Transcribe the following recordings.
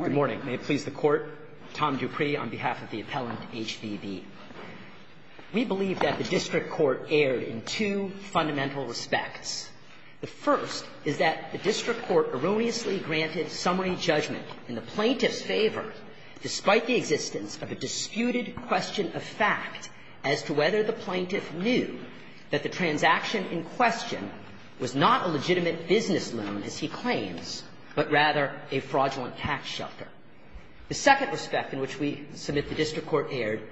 Good morning. May it please the Court. Tom Dupree on behalf of the Appellant HVB. We believe that the District Court erred in two fundamental respects. The first is that the District Court erroneously granted summary judgment in the plaintiff's favor, despite the existence of a disputed question of fact as to whether the plaintiff knew that the transaction in question was not a legitimate business loan, as he claims, but rather a fraudulent tax shelter. The second respect in which we submit the District Court erred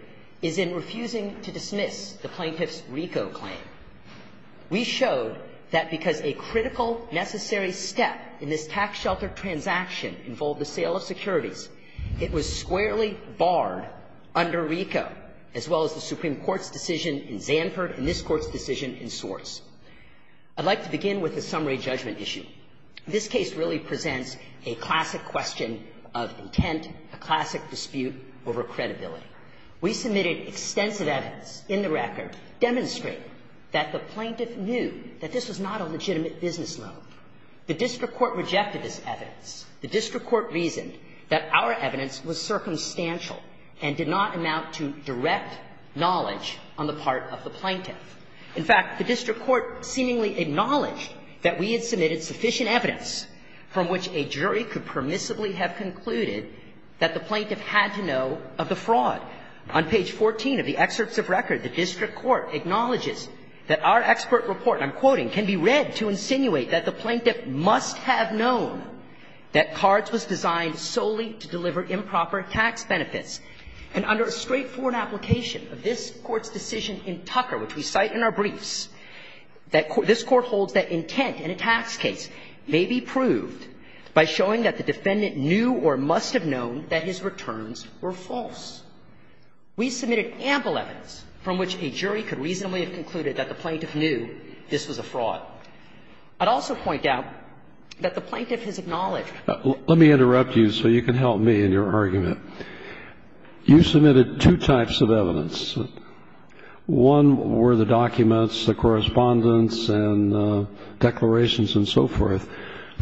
is in refusing to dismiss the plaintiff's RICO claim. We showed that because a critical necessary step in this tax shelter transaction involved the sale of securities, it was squarely barred under RICO, as well as the Supreme Court's decision in Zanford and this Court's decision in Swartz. I'd like to begin with the summary judgment issue. This case really presents a classic question of intent, a classic dispute over credibility. We submitted extensive evidence in the record demonstrating that the plaintiff knew that this was not a legitimate business loan. The District Court rejected this evidence. The District Court reasoned that our evidence was circumstantial and did not amount to direct knowledge on the part of the plaintiff. In fact, the District Court seemingly acknowledged that we had submitted sufficient evidence from which a jury could permissibly have concluded that the plaintiff had to know of the fraud. On page 14 of the excerpts of record, the District Court acknowledges that our expert report, and I'm quoting, can be read to insinuate that the plaintiff must have known that Cards was designed solely to deliver improper tax benefits. And under a straightforward application of this Court's decision in Tucker, which we cite in our briefs, that this Court holds that intent in a tax case may be proved by showing that the defendant knew or must have known that his returns were false. We submitted ample evidence from which a jury could reasonably have concluded that the plaintiff knew this was a fraud. I'd also point out that the plaintiff has acknowledged that the plaintiff One were the documents, the correspondence, and declarations and so forth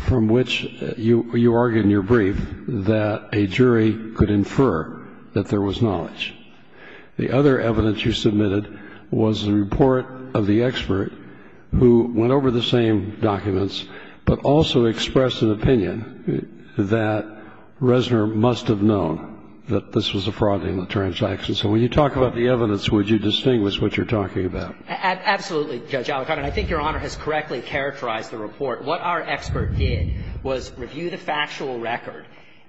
from which you argued in your brief that a jury could infer that there was knowledge. The other evidence you submitted was the report of the expert who went over the same documents, but also expressed an opinion that Reznor must have known that this was a fraud in the transaction. So when you talk about the evidence, would you distinguish what you're talking about? Absolutely, Judge Alito. I think Your Honor has correctly characterized the report. What our expert did was review the factual record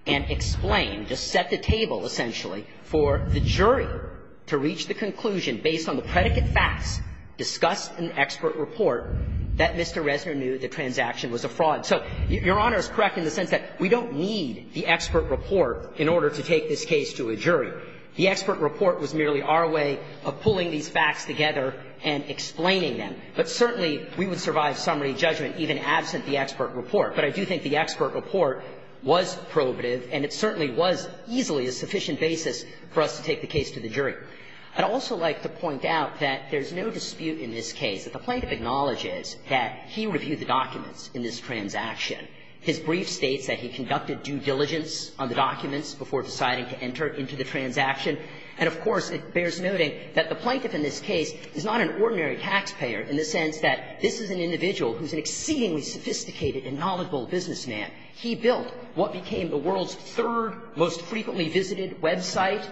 and explain, just set the table essentially, for the jury to reach the conclusion based on the predicate facts, discuss an expert report that Mr. Reznor knew the transaction was a fraud. So Your Honor is correct in the sense that we don't need the expert report in order to take this case to a jury. The expert report was merely our way of pulling these facts together and explaining them. But certainly, we would survive summary judgment even absent the expert report. But I do think the expert report was probative, and it certainly was easily a sufficient basis for us to take the case to the jury. I'd also like to point out that there's no dispute in this case that the plaintiff acknowledges that he reviewed the documents in this transaction. His brief states that he conducted due diligence on the documents before deciding to enter into the transaction. And, of course, it bears noting that the plaintiff in this case is not an ordinary taxpayer in the sense that this is an individual who's an exceedingly sophisticated and knowledgeable businessman. He built what became the world's third most frequently visited website.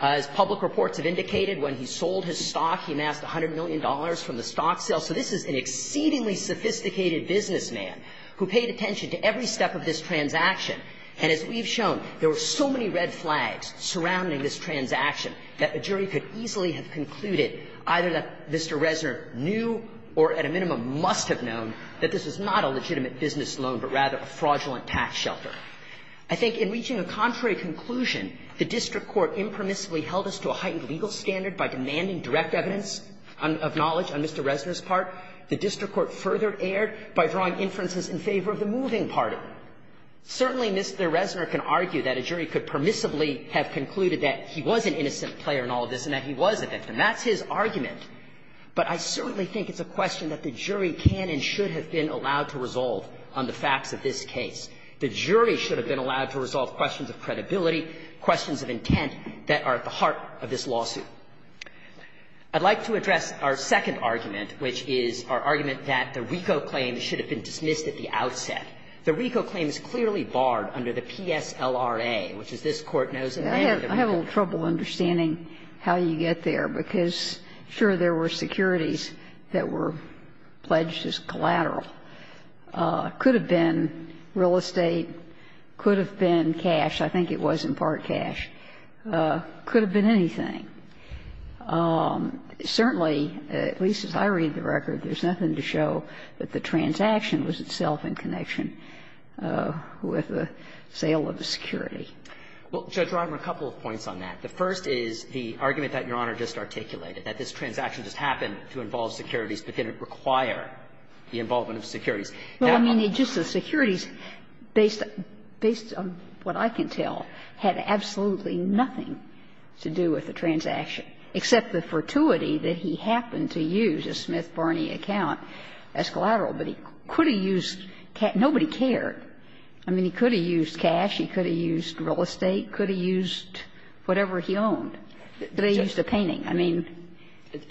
As public reports have indicated, when he sold his stock, he amassed $100 million from the stock sale. So this is an exceedingly sophisticated businessman who paid attention to every step of this transaction. And as we've shown, there were so many red flags surrounding this transaction that a jury could easily have concluded either that Mr. Reznor knew or at a minimum must have known that this was not a legitimate business loan, but rather a fraudulent tax shelter. I think in reaching a contrary conclusion, the district court impermissibly held us to a heightened legal standard by demanding direct evidence of knowledge on Mr. Reznor's part. The district court further erred by drawing inferences in favor of the moving party. Certainly, Mr. Reznor can argue that a jury could permissibly have concluded that he was an innocent player in all of this and that he was a victim. That's his argument. But I certainly think it's a question that the jury can and should have been allowed to resolve on the facts of this case. The jury should have been allowed to resolve on all questions of credibility, questions of intent that are at the heart of this lawsuit. I'd like to address our second argument, which is our argument that the RICO claim should have been dismissed at the outset. The RICO claim is clearly barred under the PSLRA, which, as this Court knows, is mandatory. Ginsburg. I have a little trouble understanding how you get there, because, sure, there were securities that were pledged as collateral. Could have been real estate, could have been cash, I think it was in part cash, could have been anything. Certainly, at least as I read the record, there's nothing to show that the transaction was itself in connection with the sale of the security. Well, Judge Rodman, a couple of points on that. The first is the argument that Your Honor just articulated, that this transaction just happened to involve securities, but didn't require the involvement of securities. Well, I mean, it just the securities, based on what I can tell, had absolutely nothing to do with the transaction, except the fortuity that he happened to use a Smith-Barney account as collateral. But he could have used cash. Nobody cared. I mean, he could have used cash, he could have used real estate, could have used whatever he owned. But they used a painting. I mean,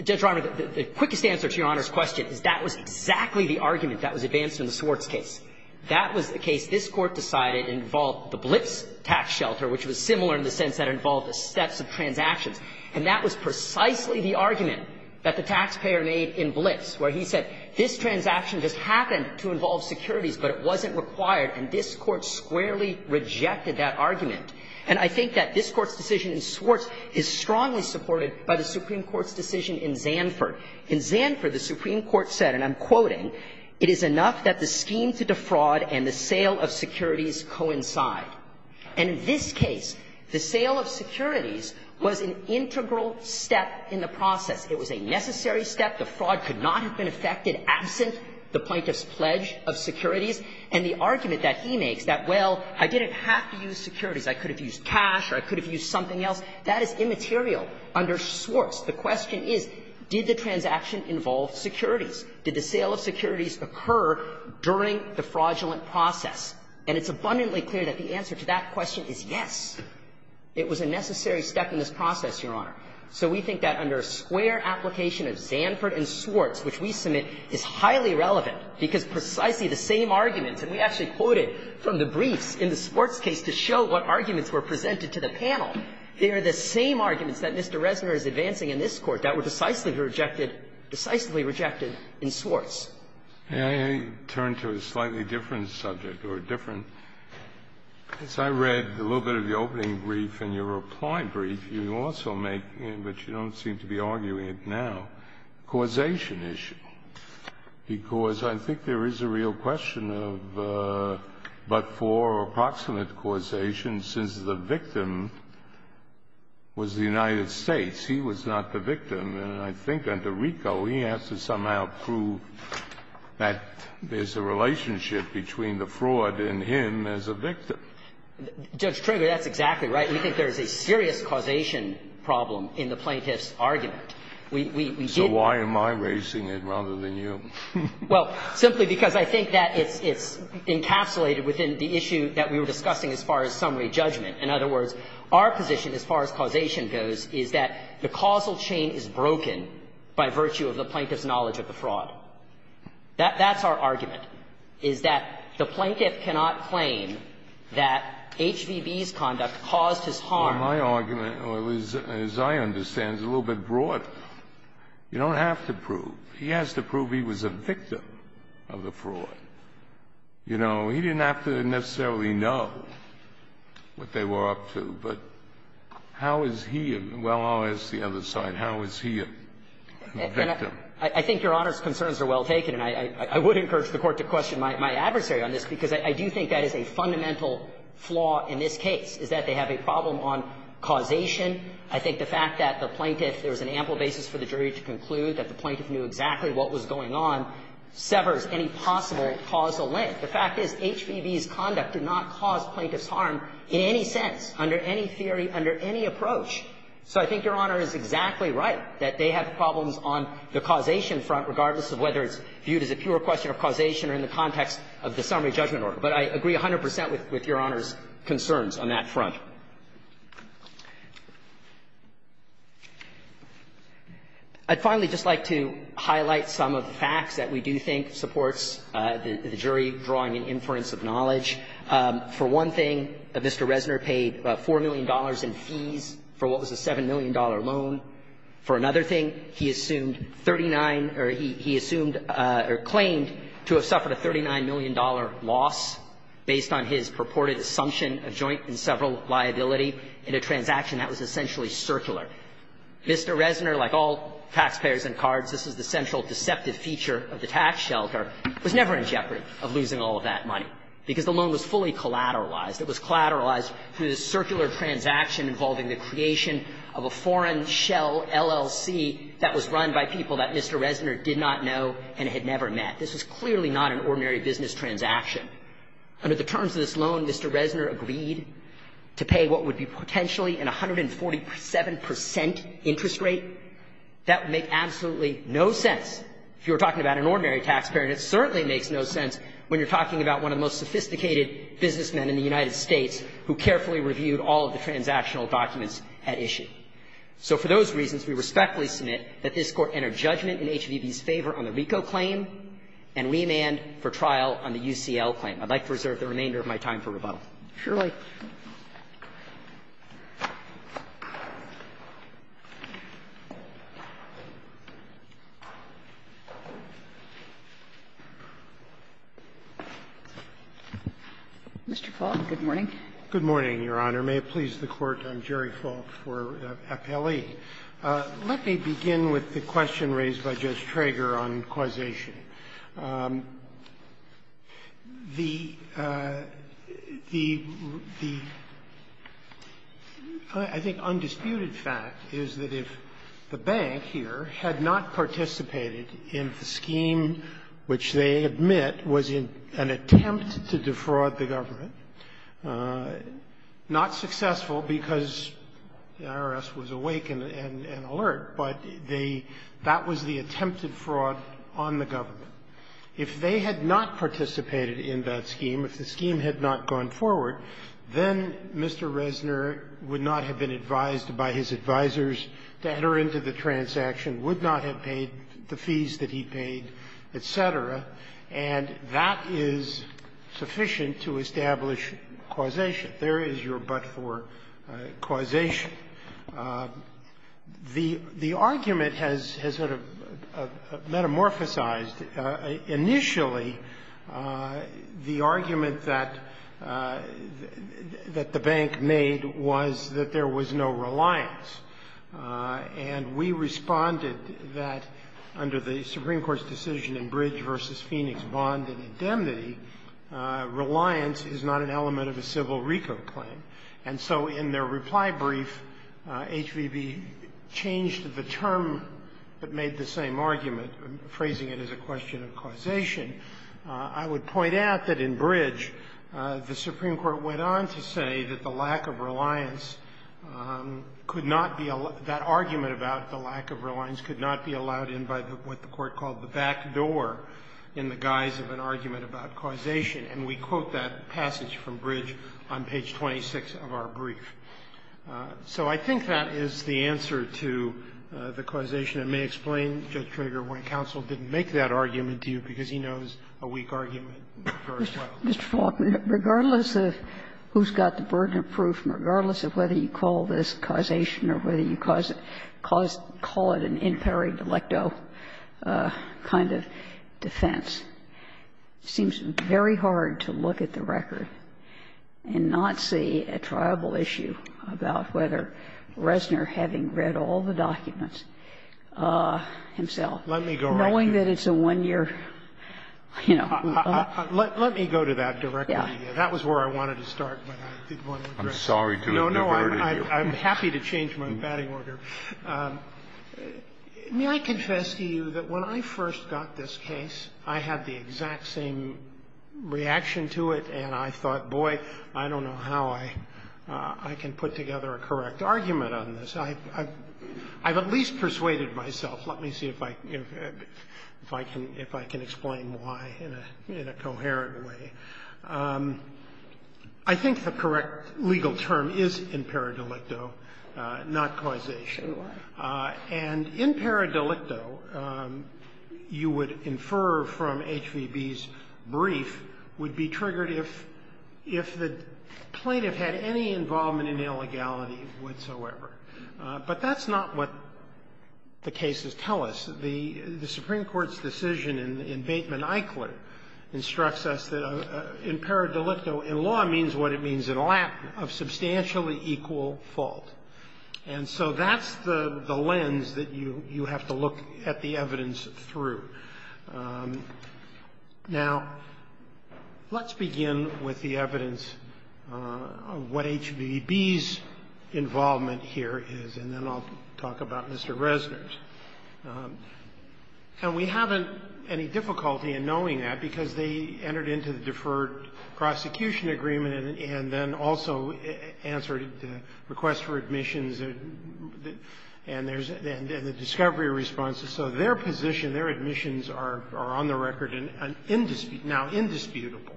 Judge Rodman, the quickest answer to Your Honor's question is that was exactly the argument that was advanced in the Swartz case. That was the case this Court decided involved the Blitz tax shelter, which was similar in the sense that it involved the steps of transactions. And that was precisely the argument that the taxpayer made in Blitz, where he said, this transaction just happened to involve securities, but it wasn't required. And this Court squarely rejected that argument. And I think that this Court's decision in Swartz is strongly supported by the Supreme Court's decision in Zanford. In Zanford, the Supreme Court said, and I'm quoting, "...it is enough that the scheme to defraud and the sale of securities coincide." And in this case, the sale of securities was an integral step in the process. It was a necessary step. The fraud could not have been affected absent the plaintiff's pledge of securities. And the argument that he makes that, well, I didn't have to use securities, I could have used cash or I could have used something else, that is immaterial under Swartz. The question is, did the transaction involve securities? Did the sale of securities occur during the fraudulent process? And it's abundantly clear that the answer to that question is yes. It was a necessary step in this process, Your Honor. So we think that under a square application of Zanford and Swartz, which we submit, is highly relevant, because precisely the same arguments, and we actually quoted from the briefs in the Swartz case to show what arguments were presented to the panel, they are the same arguments that Mr. Reznor is advancing in this Court that were decisively rejected in Swartz. Breyer, turn to a slightly different subject, or a different one. As I read a little bit of the opening brief in your reply brief, you also make, but you don't seem to be arguing it now, causation issue, because I think there is a real question of, but for approximate causation, since the victim is the victim, was the United States, he was not the victim. And I think under RICO, he has to somehow prove that there's a relationship between the fraud and him as a victim. Judge Trigger, that's exactly right. We think there is a serious causation problem in the plaintiff's argument. We did not. So why am I raising it rather than you? Well, simply because I think that it's encapsulated within the issue that we were discussing as far as summary judgment. In other words, our position as far as causation goes is that the causal chain is broken by virtue of the plaintiff's knowledge of the fraud. That's our argument, is that the plaintiff cannot claim that HVB's conduct caused his harm. Well, my argument, as I understand, is a little bit broader. You don't have to prove. He has to prove he was a victim of the fraud. You know, he didn't have to necessarily know what they were up to, but how is he a well, I'll ask the other side, how is he a victim? I think Your Honor's concerns are well taken, and I would encourage the Court to question my adversary on this, because I do think that is a fundamental flaw in this case, is that they have a problem on causation. I think the fact that the plaintiff, there was an ample basis for the jury to conclude that the plaintiff knew exactly what was going on, severs any possible causal link. The fact is HVB's conduct did not cause plaintiff's harm in any sense, under any theory, under any approach. So I think Your Honor is exactly right, that they have problems on the causation front, regardless of whether it's viewed as a pure question of causation or in the context of the summary judgment order. But I agree 100 percent with Your Honor's concerns on that front. I'd finally just like to highlight some of the facts that we do think supports the jury drawing an inference of knowledge. For one thing, Mr. Reznor paid $4 million in fees for what was a $7 million loan. For another thing, he assumed 39 or he assumed or claimed to have suffered a $39 million loss based on his purported assumption of joint and several liability in a transaction that was essentially circular. Mr. Reznor, like all taxpayers and cards, this is the central deceptive feature of the tax shelter, was never in jeopardy of losing all of that money, because the loan was fully collateralized. It was collateralized through the circular transaction involving the creation of a foreign shell LLC that was run by people that Mr. Reznor did not know and had never met. This was clearly not an ordinary business transaction. Under the terms of this loan, Mr. Reznor agreed to pay what would be potentially an 147 percent interest rate. That would make absolutely no sense if you were talking about an ordinary taxpayer, and it certainly makes no sense when you're talking about one of the most sophisticated businessmen in the United States who carefully reviewed all of the transactional documents at issue. So for those reasons, we respectfully submit that this Court entered judgment in HVB's favor on the RICO claim and remanded for trial on the UCL claim. I'd like to reserve the remainder of my time for rebuttal. Sotomayor. Mr. Falk, good morning. Good morning, Your Honor. May it please the Court, I'm Jerry Falk for FLE. Let me begin with the question raised by Judge Trager on causation. The undisputed fact is that if the bank here had not participated in the scheme which they admit was an attempt to defraud the government, not successful because the IRS was awake and alert, but they – that was the attempted fraud on the government. If they had not participated in that scheme, if the scheme had not gone forward, then Mr. Reznor would not have been advised by his advisors to enter into the transaction, would not have paid the fees that he paid, et cetera, and that is sufficient to establish causation. Yet there is your but-for causation. The argument has sort of metamorphosized. Initially, the argument that the bank made was that there was no reliance. And we responded that under the Supreme Court's decision in Bridge v. Phoenix bond and indemnity, reliance is not an element of a civil reco claim. And so in their reply brief, HVB changed the term but made the same argument, phrasing it as a question of causation. I would point out that in Bridge, the Supreme Court went on to say that the lack of reliance could not be – that argument about the lack of reliance could not be the cause of an argument about causation, and we quote that passage from Bridge on page 26 of our brief. So I think that is the answer to the causation. It may explain, Judge Kroger, why counsel didn't make that argument to you, because he knows a weak argument very well. Ginsburg. Mr. Falk, regardless of who's got the burden of proof and regardless of whether you call this causation or whether you cause – call it an imperi delecto kind of defense, it seems very hard to look at the record and not see a triable issue about whether Reznor, having read all the documents himself, knowing that it's a one-year, you know. Let me go to that directly. That was where I wanted to start. I'm sorry to have never heard of you. No, no, I'm happy to change my batting order. May I confess to you that when I first got this case, I had the exact same reaction to it, and I thought, boy, I don't know how I can put together a correct argument on this. I've at least persuaded myself. Let me see if I can explain why in a coherent way. I think the correct legal term is imperi delecto, not causation. And imperi delecto, you would infer from HVB's brief, would be triggered if the plaintiff had any involvement in illegality whatsoever. But that's not what the cases tell us. The Supreme Court's decision in Bateman-Eichler instructs us that imperi delecto in law means what it means in a lack of substantially equal fault. And so that's the lens that you have to look at the evidence through. Now, let's begin with the evidence of what HVB's involvement here is, and then I'll talk about Mr. Resner's. And we haven't any difficulty in knowing that because they entered into the deferred prosecution agreement and then also answered the request for admissions and the discovery responses. So their position, their admissions are on the record and now indisputable.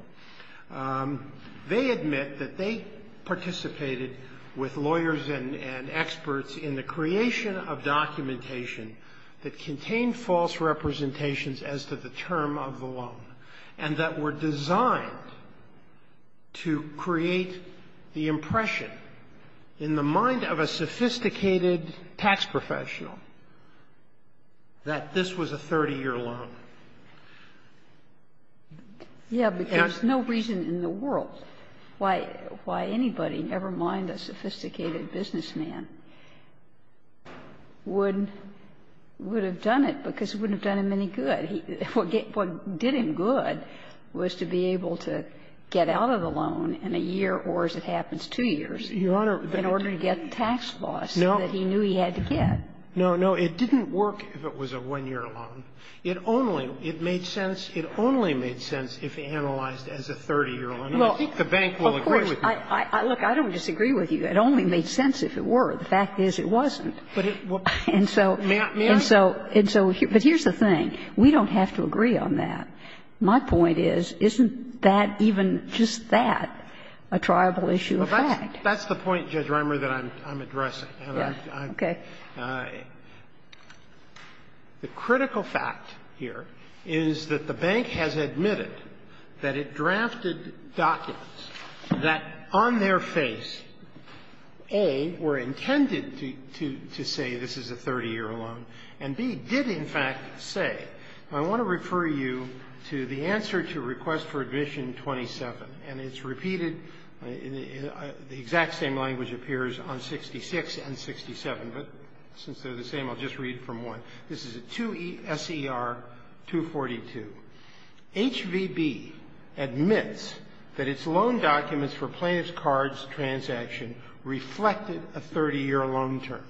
They admit that they participated with lawyers and experts in the creation of documentation that contained false representations as to the term of the loan and that were designed to create the impression in the mind of a sophisticated tax professional that this was a 30-year loan. Yeah, because no reason in the world why anybody, never mind a sophisticated businessman, would have done it because it wouldn't have done him any good. What did him good was to be able to get out of the loan in a year or, as it happens, two years in order to get the tax loss that he knew he had to get. No, no. It didn't work if it was a one-year loan. It only, it made sense, it only made sense if analyzed as a 30-year loan. And I think the bank will agree with you. Look, I don't disagree with you. It only made sense if it were. The fact is it wasn't. And so, and so, but here's the thing. We don't have to agree on that. My point is, isn't that, even just that, a triable issue of fact? That's the point, Judge Rimer, that I'm addressing. Okay. The critical fact here is that the bank has admitted that it drafted documents that, on their face, A, were intended to say this is a 30-year loan, and B, did, in fact, say, and I want to refer you to the answer to request for admission 27, and it's repeated, the exact same language appears on 66 and 67, but it's repeated since they're the same, I'll just read from one. This is a 2ESER 242. HVB admits that its loan documents for plaintiff's cards transaction reflected a 30-year loan term.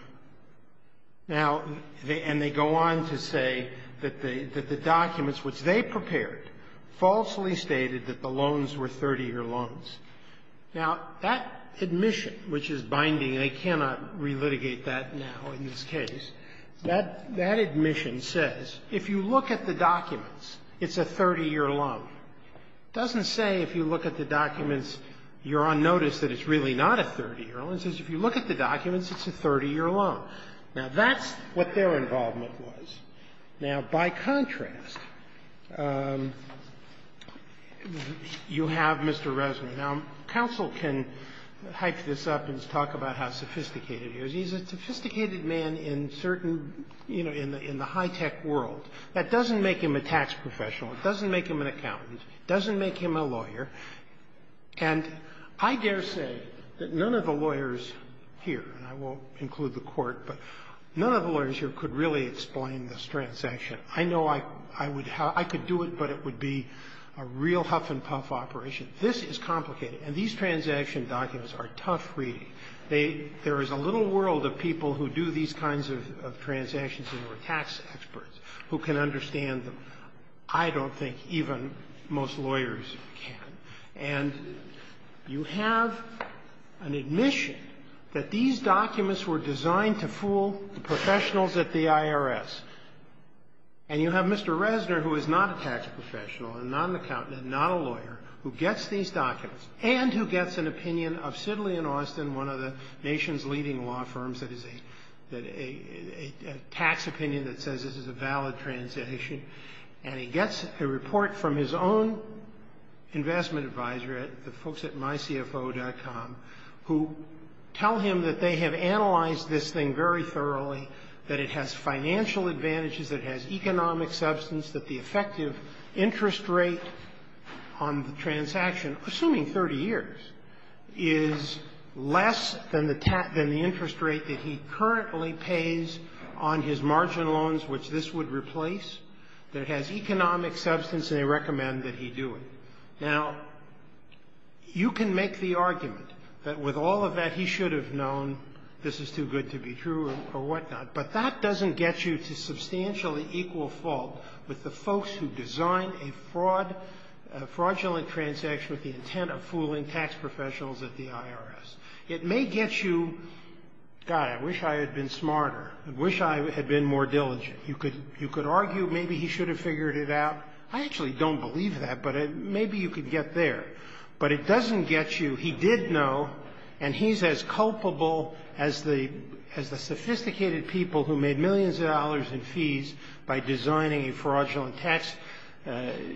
Now, they, and they go on to say that the, that the documents which they prepared falsely stated that the loans were 30-year loans. Now, that admission, which is binding, and I cannot relitigate that now in this case, that, that admission says if you look at the documents, it's a 30-year loan. It doesn't say if you look at the documents, you're on notice that it's really not a 30-year loan. It says if you look at the documents, it's a 30-year loan. Now, that's what their involvement was. Now, by contrast, you have Mr. Resnick. Now, counsel can hype this up and talk about how sophisticated he is. He's a sophisticated man in certain, you know, in the high-tech world. That doesn't make him a tax professional. It doesn't make him an accountant. It doesn't make him a lawyer. And I dare say that none of the lawyers here, and I won't include the Court, but none of the lawyers here could really explain this transaction. I know I, I would, I could do it, but it would be a real huff-and-puff operation. This is complicated, and these transaction documents are tough reading. They, there is a little world of people who do these kinds of, of transactions who are tax experts, who can understand them. I don't think even most lawyers can. And you have an admission that these documents were designed to fool the professional at the IRS, and you have Mr. Resnick, who is not a tax professional, and not an accountant, and not a lawyer, who gets these documents, and who gets an opinion of Sidley and Austin, one of the nation's leading law firms, that is a, that a, a, a tax opinion that says this is a valid transaction. And he gets a report from his own investment advisor, the folks at mycfo.com, who tell him that they have analyzed this thing very thoroughly, that it has financial advantages, that it has economic substance, that the effective interest rate on the transaction, assuming 30 years, is less than the, than the interest rate that he currently pays on his margin loans, which this would replace, that it has economic substance, and they recommend that he do it. Now, you can make the argument that with all of that, he should have known, this is too good to be true, or whatnot, but that doesn't get you to substantially equal fault with the folks who design a fraud, a fraudulent transaction with the intent of fooling tax professionals at the IRS. It may get you, God, I wish I had been smarter. I wish I had been more diligent. You could, you could argue maybe he should have figured it out. I actually don't believe that, but maybe you could get there. But it doesn't get you, he did know, and he's as culpable as the, as the sophisticated people who made millions of dollars in fees by designing a fraudulent tax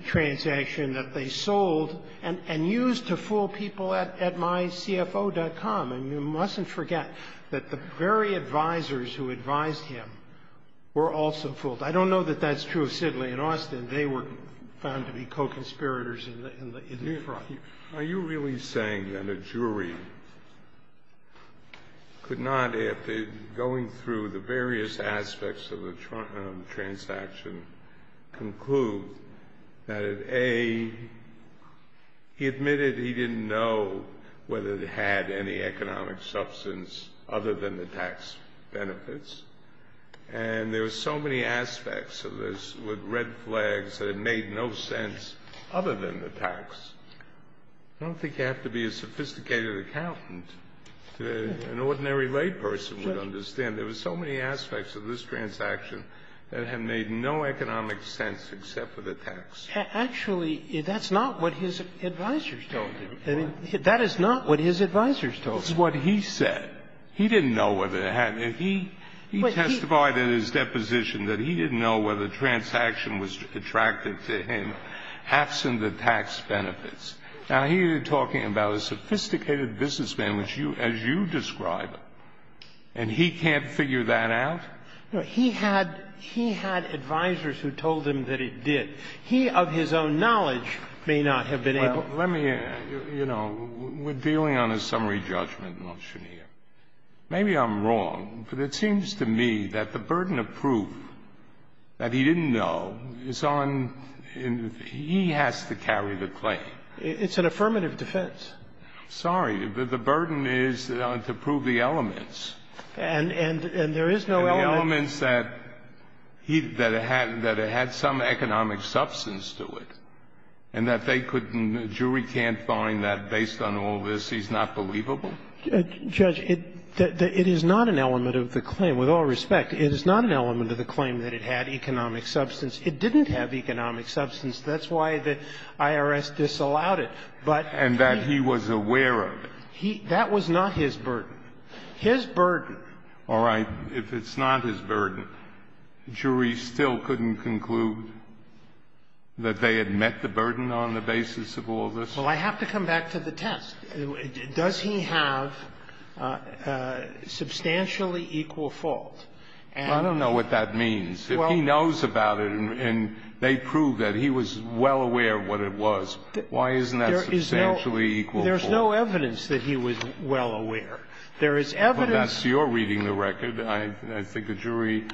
transaction that they sold and, and used to fool people at, at mycfo.com. And you mustn't forget that the very advisors who advised him were also fooled. I don't know that that's true of Sidley and Austin. They were found to be co-conspirators in the, in the fraud. Are you really saying that a jury could not, after going through the various aspects of the transaction, conclude that it, A, he admitted he didn't know whether it had any economic substance other than the tax benefits. And there were so many aspects of this with red flags that it made no sense other than the tax. I don't think you have to be a sophisticated accountant to, an ordinary lay person would understand. There were so many aspects of this transaction that it had made no economic sense except for the tax. Actually, that's not what his advisors told him. I mean, that is not what his advisors told him. It's what he said. He didn't know whether it had. He testified in his deposition that he didn't know whether the transaction was attractive to him absent the tax benefits. Now, he is talking about a sophisticated businessman, which you, as you describe him, and he can't figure that out? He had, he had advisors who told him that he did. He, of his own knowledge, may not have been able to. Well, let me, you know, we're dealing on a summary judgment motion here. Maybe I'm wrong, but it seems to me that the burden of proof that he didn't know is on his end. He has to carry the claim. It's an affirmative defense. Sorry. The burden is to prove the elements. And there is no element. The elements that he, that it had, that it had some economic substance to it, and that they couldn't, the jury can't find that based on all this he's not believable? Judge, it, it is not an element of the claim. With all respect, it is not an element of the claim that it had economic substance. It didn't have economic substance. That's why the IRS disallowed it. But he And that he was aware of it. He, that was not his burden. His burden. All right. If it's not his burden, the jury still couldn't conclude that they had met the burden on the basis of all this? Well, I have to come back to the test. Does he have substantially equal fault? And I don't know what that means. Well. If he knows about it and they prove that he was well aware of what it was, why isn't that substantially equal fault? There is no evidence that he was well aware. There is evidence. But that's your reading of the record. I think a jury,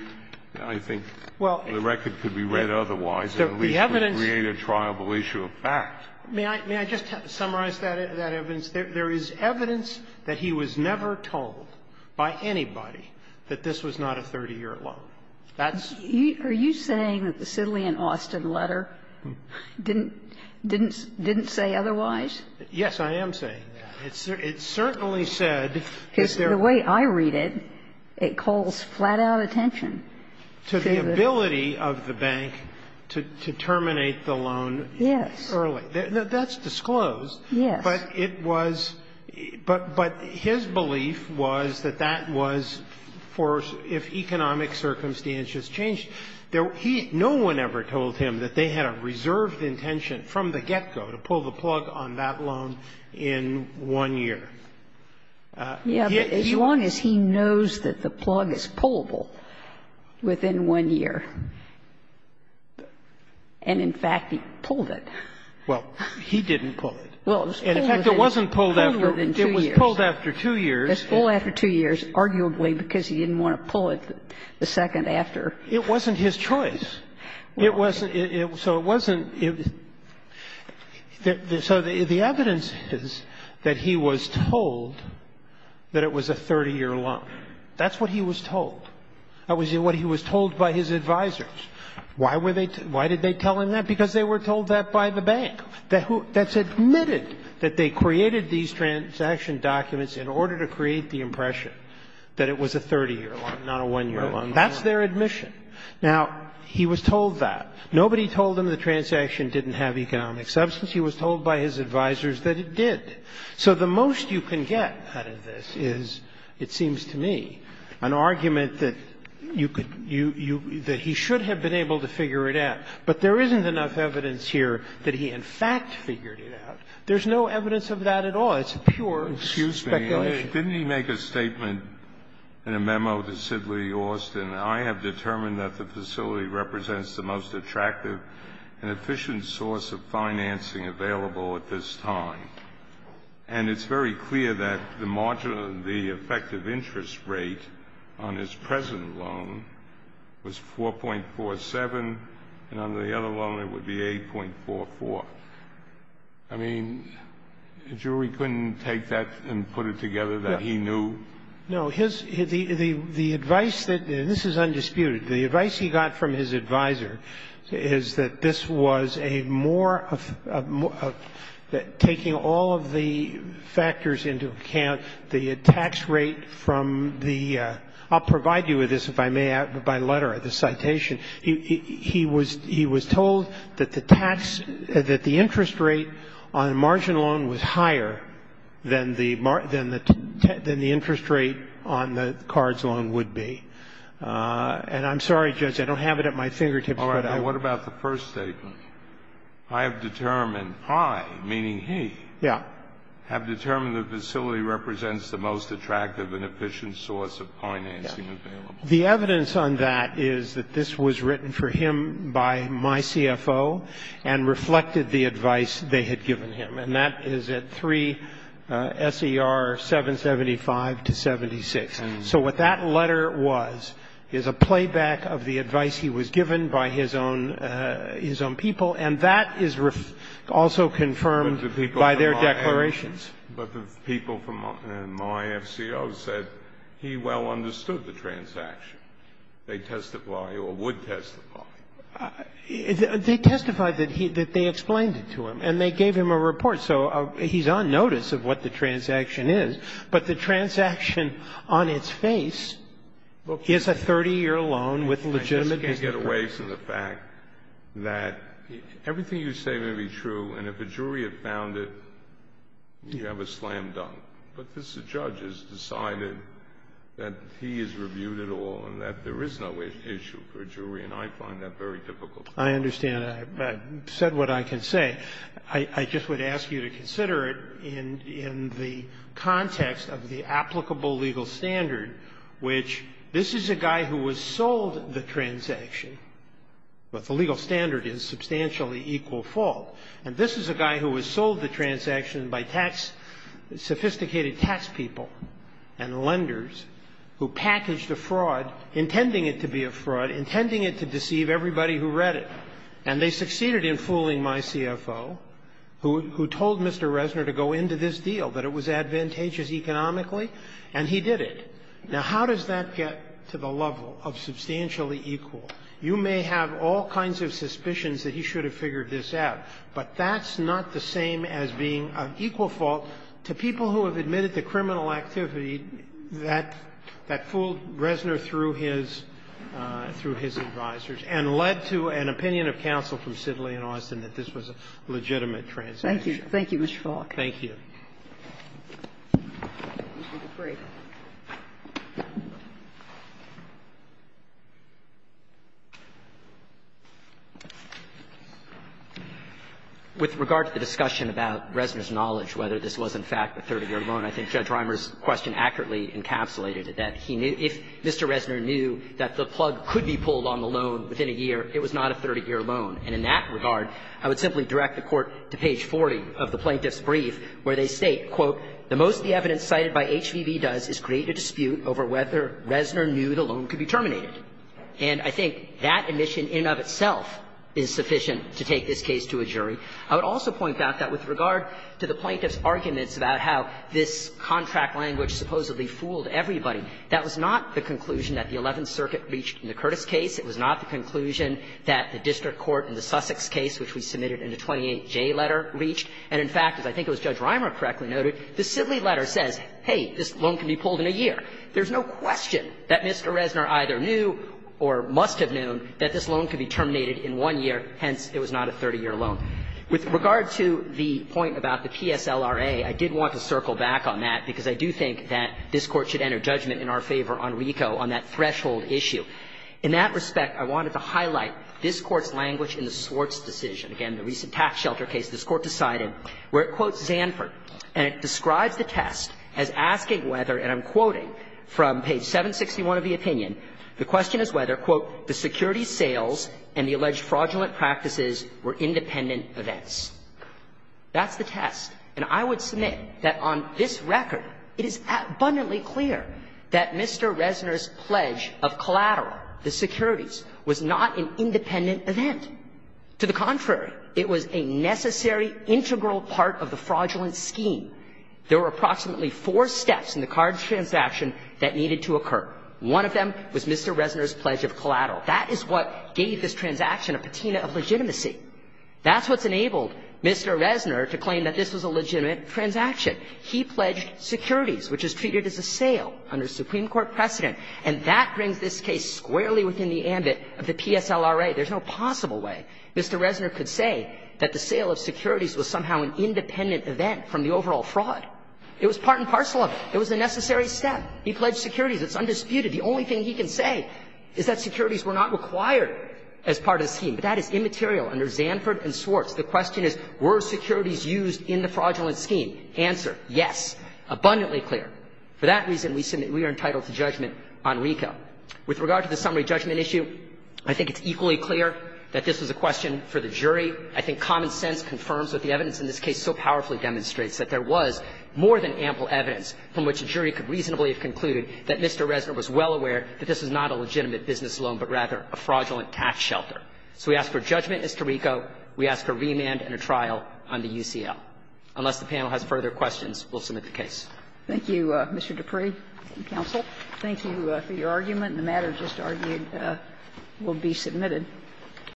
I think the record could be read otherwise. The evidence. At least it would create a triable issue of fact. May I just summarize that evidence? There is evidence that he was never told by anybody that this was not a 30-year loan. That's Are you saying that the Sidley and Austin letter didn't say otherwise? Yes, I am saying that. It certainly said that there was The way I read it, it calls flat-out attention to the Ability of the bank to terminate the loan early. That's disclosed. Yes. But it was – but his belief was that that was for if economic circumstances changed. No one ever told him that they had a reserved intention from the get-go to pull the plug on that loan in one year. Yeah. As long as he knows that the plug is pullable within one year. And in fact, he pulled it. Well, he didn't pull it. Well, it was pulled within two years. And in fact, it wasn't pulled after – it was pulled after two years. It was pulled after two years, arguably because he didn't want to pull it the second after. It wasn't his choice. It wasn't – so it wasn't – so the evidence is that he was told that it was a 30-year loan. That's what he was told. That was what he was told by his advisors. Why were they – why did they tell him that? Because they were told that by the bank, that who – that's admitted that they created these transaction documents in order to create the impression that it was a 30-year loan, not a one-year loan. That's their admission. Now, he was told that. Nobody told him the transaction didn't have economic substance. He was told by his advisors that it did. So the most you can get out of this is, it seems to me, an argument that you could – that he should have been able to figure it out. But there isn't enough evidence here that he, in fact, figured it out. There's no evidence of that at all. It's pure speculation. Kennedy, didn't he make a statement in a memo to Sidley Austin, I have determined that the facility represents the most attractive and efficient source of financing available at this time. And it's very clear that the margin of the effective interest rate on his present loan was 4.47, and on the other loan it would be 8.44. I mean, the jury couldn't take that and put it together that he knew? No. His – the advice that – and this is undisputed. The advice he got from his advisor is that this was a more – taking all of the factors into account, the tax rate from the – I'll provide you with this if I may, by letter, the citation. He was told that the tax – that the interest rate on the margin loan was higher than the interest rate on the cards loan would be. And I'm sorry, Judge, I don't have it at my fingertips. All right. What about the first statement? I have determined – I, meaning he – have determined the facility represents the most attractive and efficient source of financing available. The evidence on that is that this was written for him by my CFO and reflected the advice they had given him, and that is at 3 S.E.R. 775 to 76. So what that letter was is a playback of the advice he was given by his own people, and that is also confirmed by their declarations. But the people from my FCO said he well understood the transaction. They testify, or would testify. They testified that he – that they explained it to him, and they gave him a report. So he's on notice of what the transaction is, but the transaction on its face is a 30-year loan with legitimate – I just can't get away from the fact that everything you say may be true, and if a jury had found it, you have a slam dunk. But this judge has decided that he has reviewed it all and that there is no issue for a jury, and I find that very difficult. I understand. I've said what I can say. I just would ask you to consider it in the context of the applicable legal standard, which this is a guy who was sold the transaction, but the legal standard is substantially equal fault. And this is a guy who was sold the transaction by tax – sophisticated tax people and lenders who packaged a fraud, intending it to be a fraud, intending it to deceive everybody who read it. And they succeeded in fooling my CFO, who told Mr. Reznor to go into this deal, that it was advantageous economically, and he did it. Now, how does that get to the level of substantially equal? You may have all kinds of suspicions that he should have figured this out, but that's not the same as being of equal fault to people who have admitted the criminal activity that fooled Reznor through his – through his advisors and led to an opinion of counsel from Sidley and Austin that this was a legitimate transaction. Thank you. Thank you, Mr. Falk. Thank you. With regard to the discussion about Reznor's knowledge, whether this was in fact a 30-year loan, I think Judge Reimer's question accurately encapsulated it, that if Mr. Reznor knew that the plug could be pulled on the loan within a year, it was not a 30-year loan. And in that regard, I would simply direct the Court to page 40 of the Plaintiff's case, where they state, quote, And I think that admission in and of itself is sufficient to take this case to a jury. I would also point out that with regard to the Plaintiff's arguments about how this contract language supposedly fooled everybody, that was not the conclusion that the Eleventh Circuit reached in the Curtis case. It was not the conclusion that the district court in the Sussex case, which we submitted in the 28J letter, reached. And in fact, as I think it was Judge Reimer correctly noted, the Sidley letter says, hey, this loan can be pulled in a year. There's no question that Mr. Reznor either knew or must have known that this loan could be terminated in one year, hence it was not a 30-year loan. With regard to the point about the PSLRA, I did want to circle back on that, because I do think that this Court should enter judgment in our favor on RICO, on that threshold issue. In that respect, I wanted to highlight this Court's language in the Swartz decision. Again, the recent tax shelter case, this Court decided, where it quotes Zanford and it describes the test as asking whether, and I'm quoting from page 761 of the opinion, the question is whether, quote, the securities sales and the alleged fraudulent practices were independent events. That's the test. And I would submit that on this record, it is abundantly clear that Mr. Reznor's pledge of collateral, the securities, was not an independent event. To the contrary, it was a necessary integral part of the fraudulent scheme. There were approximately four steps in the card transaction that needed to occur. One of them was Mr. Reznor's pledge of collateral. That is what gave this transaction a patina of legitimacy. That's what's enabled Mr. Reznor to claim that this was a legitimate transaction. He pledged securities, which is treated as a sale under Supreme Court precedent, and that brings this case squarely within the ambit of the PSLRA. There's no way, there's no possible way Mr. Reznor could say that the sale of securities was somehow an independent event from the overall fraud. It was part and parcel of it. It was a necessary step. He pledged securities. It's undisputed. The only thing he can say is that securities were not required as part of the scheme. But that is immaterial under Zanford and Swartz. The question is, were securities used in the fraudulent scheme? For that reason, we are entitled to judgment on RICO. With regard to the summary judgment issue, I think it's equally clear that this was a question for the jury. I think common sense confirms what the evidence in this case so powerfully demonstrates, that there was more than ample evidence from which a jury could reasonably have concluded that Mr. Reznor was well aware that this was not a legitimate business loan, but rather a fraudulent tax shelter. So we ask for judgment as to RICO. We ask for remand and a trial on the UCL. Unless the panel has further questions, we'll submit the case. Thank you, Mr. Dupree and counsel. Thank you for your argument. The matter just argued will be submitted.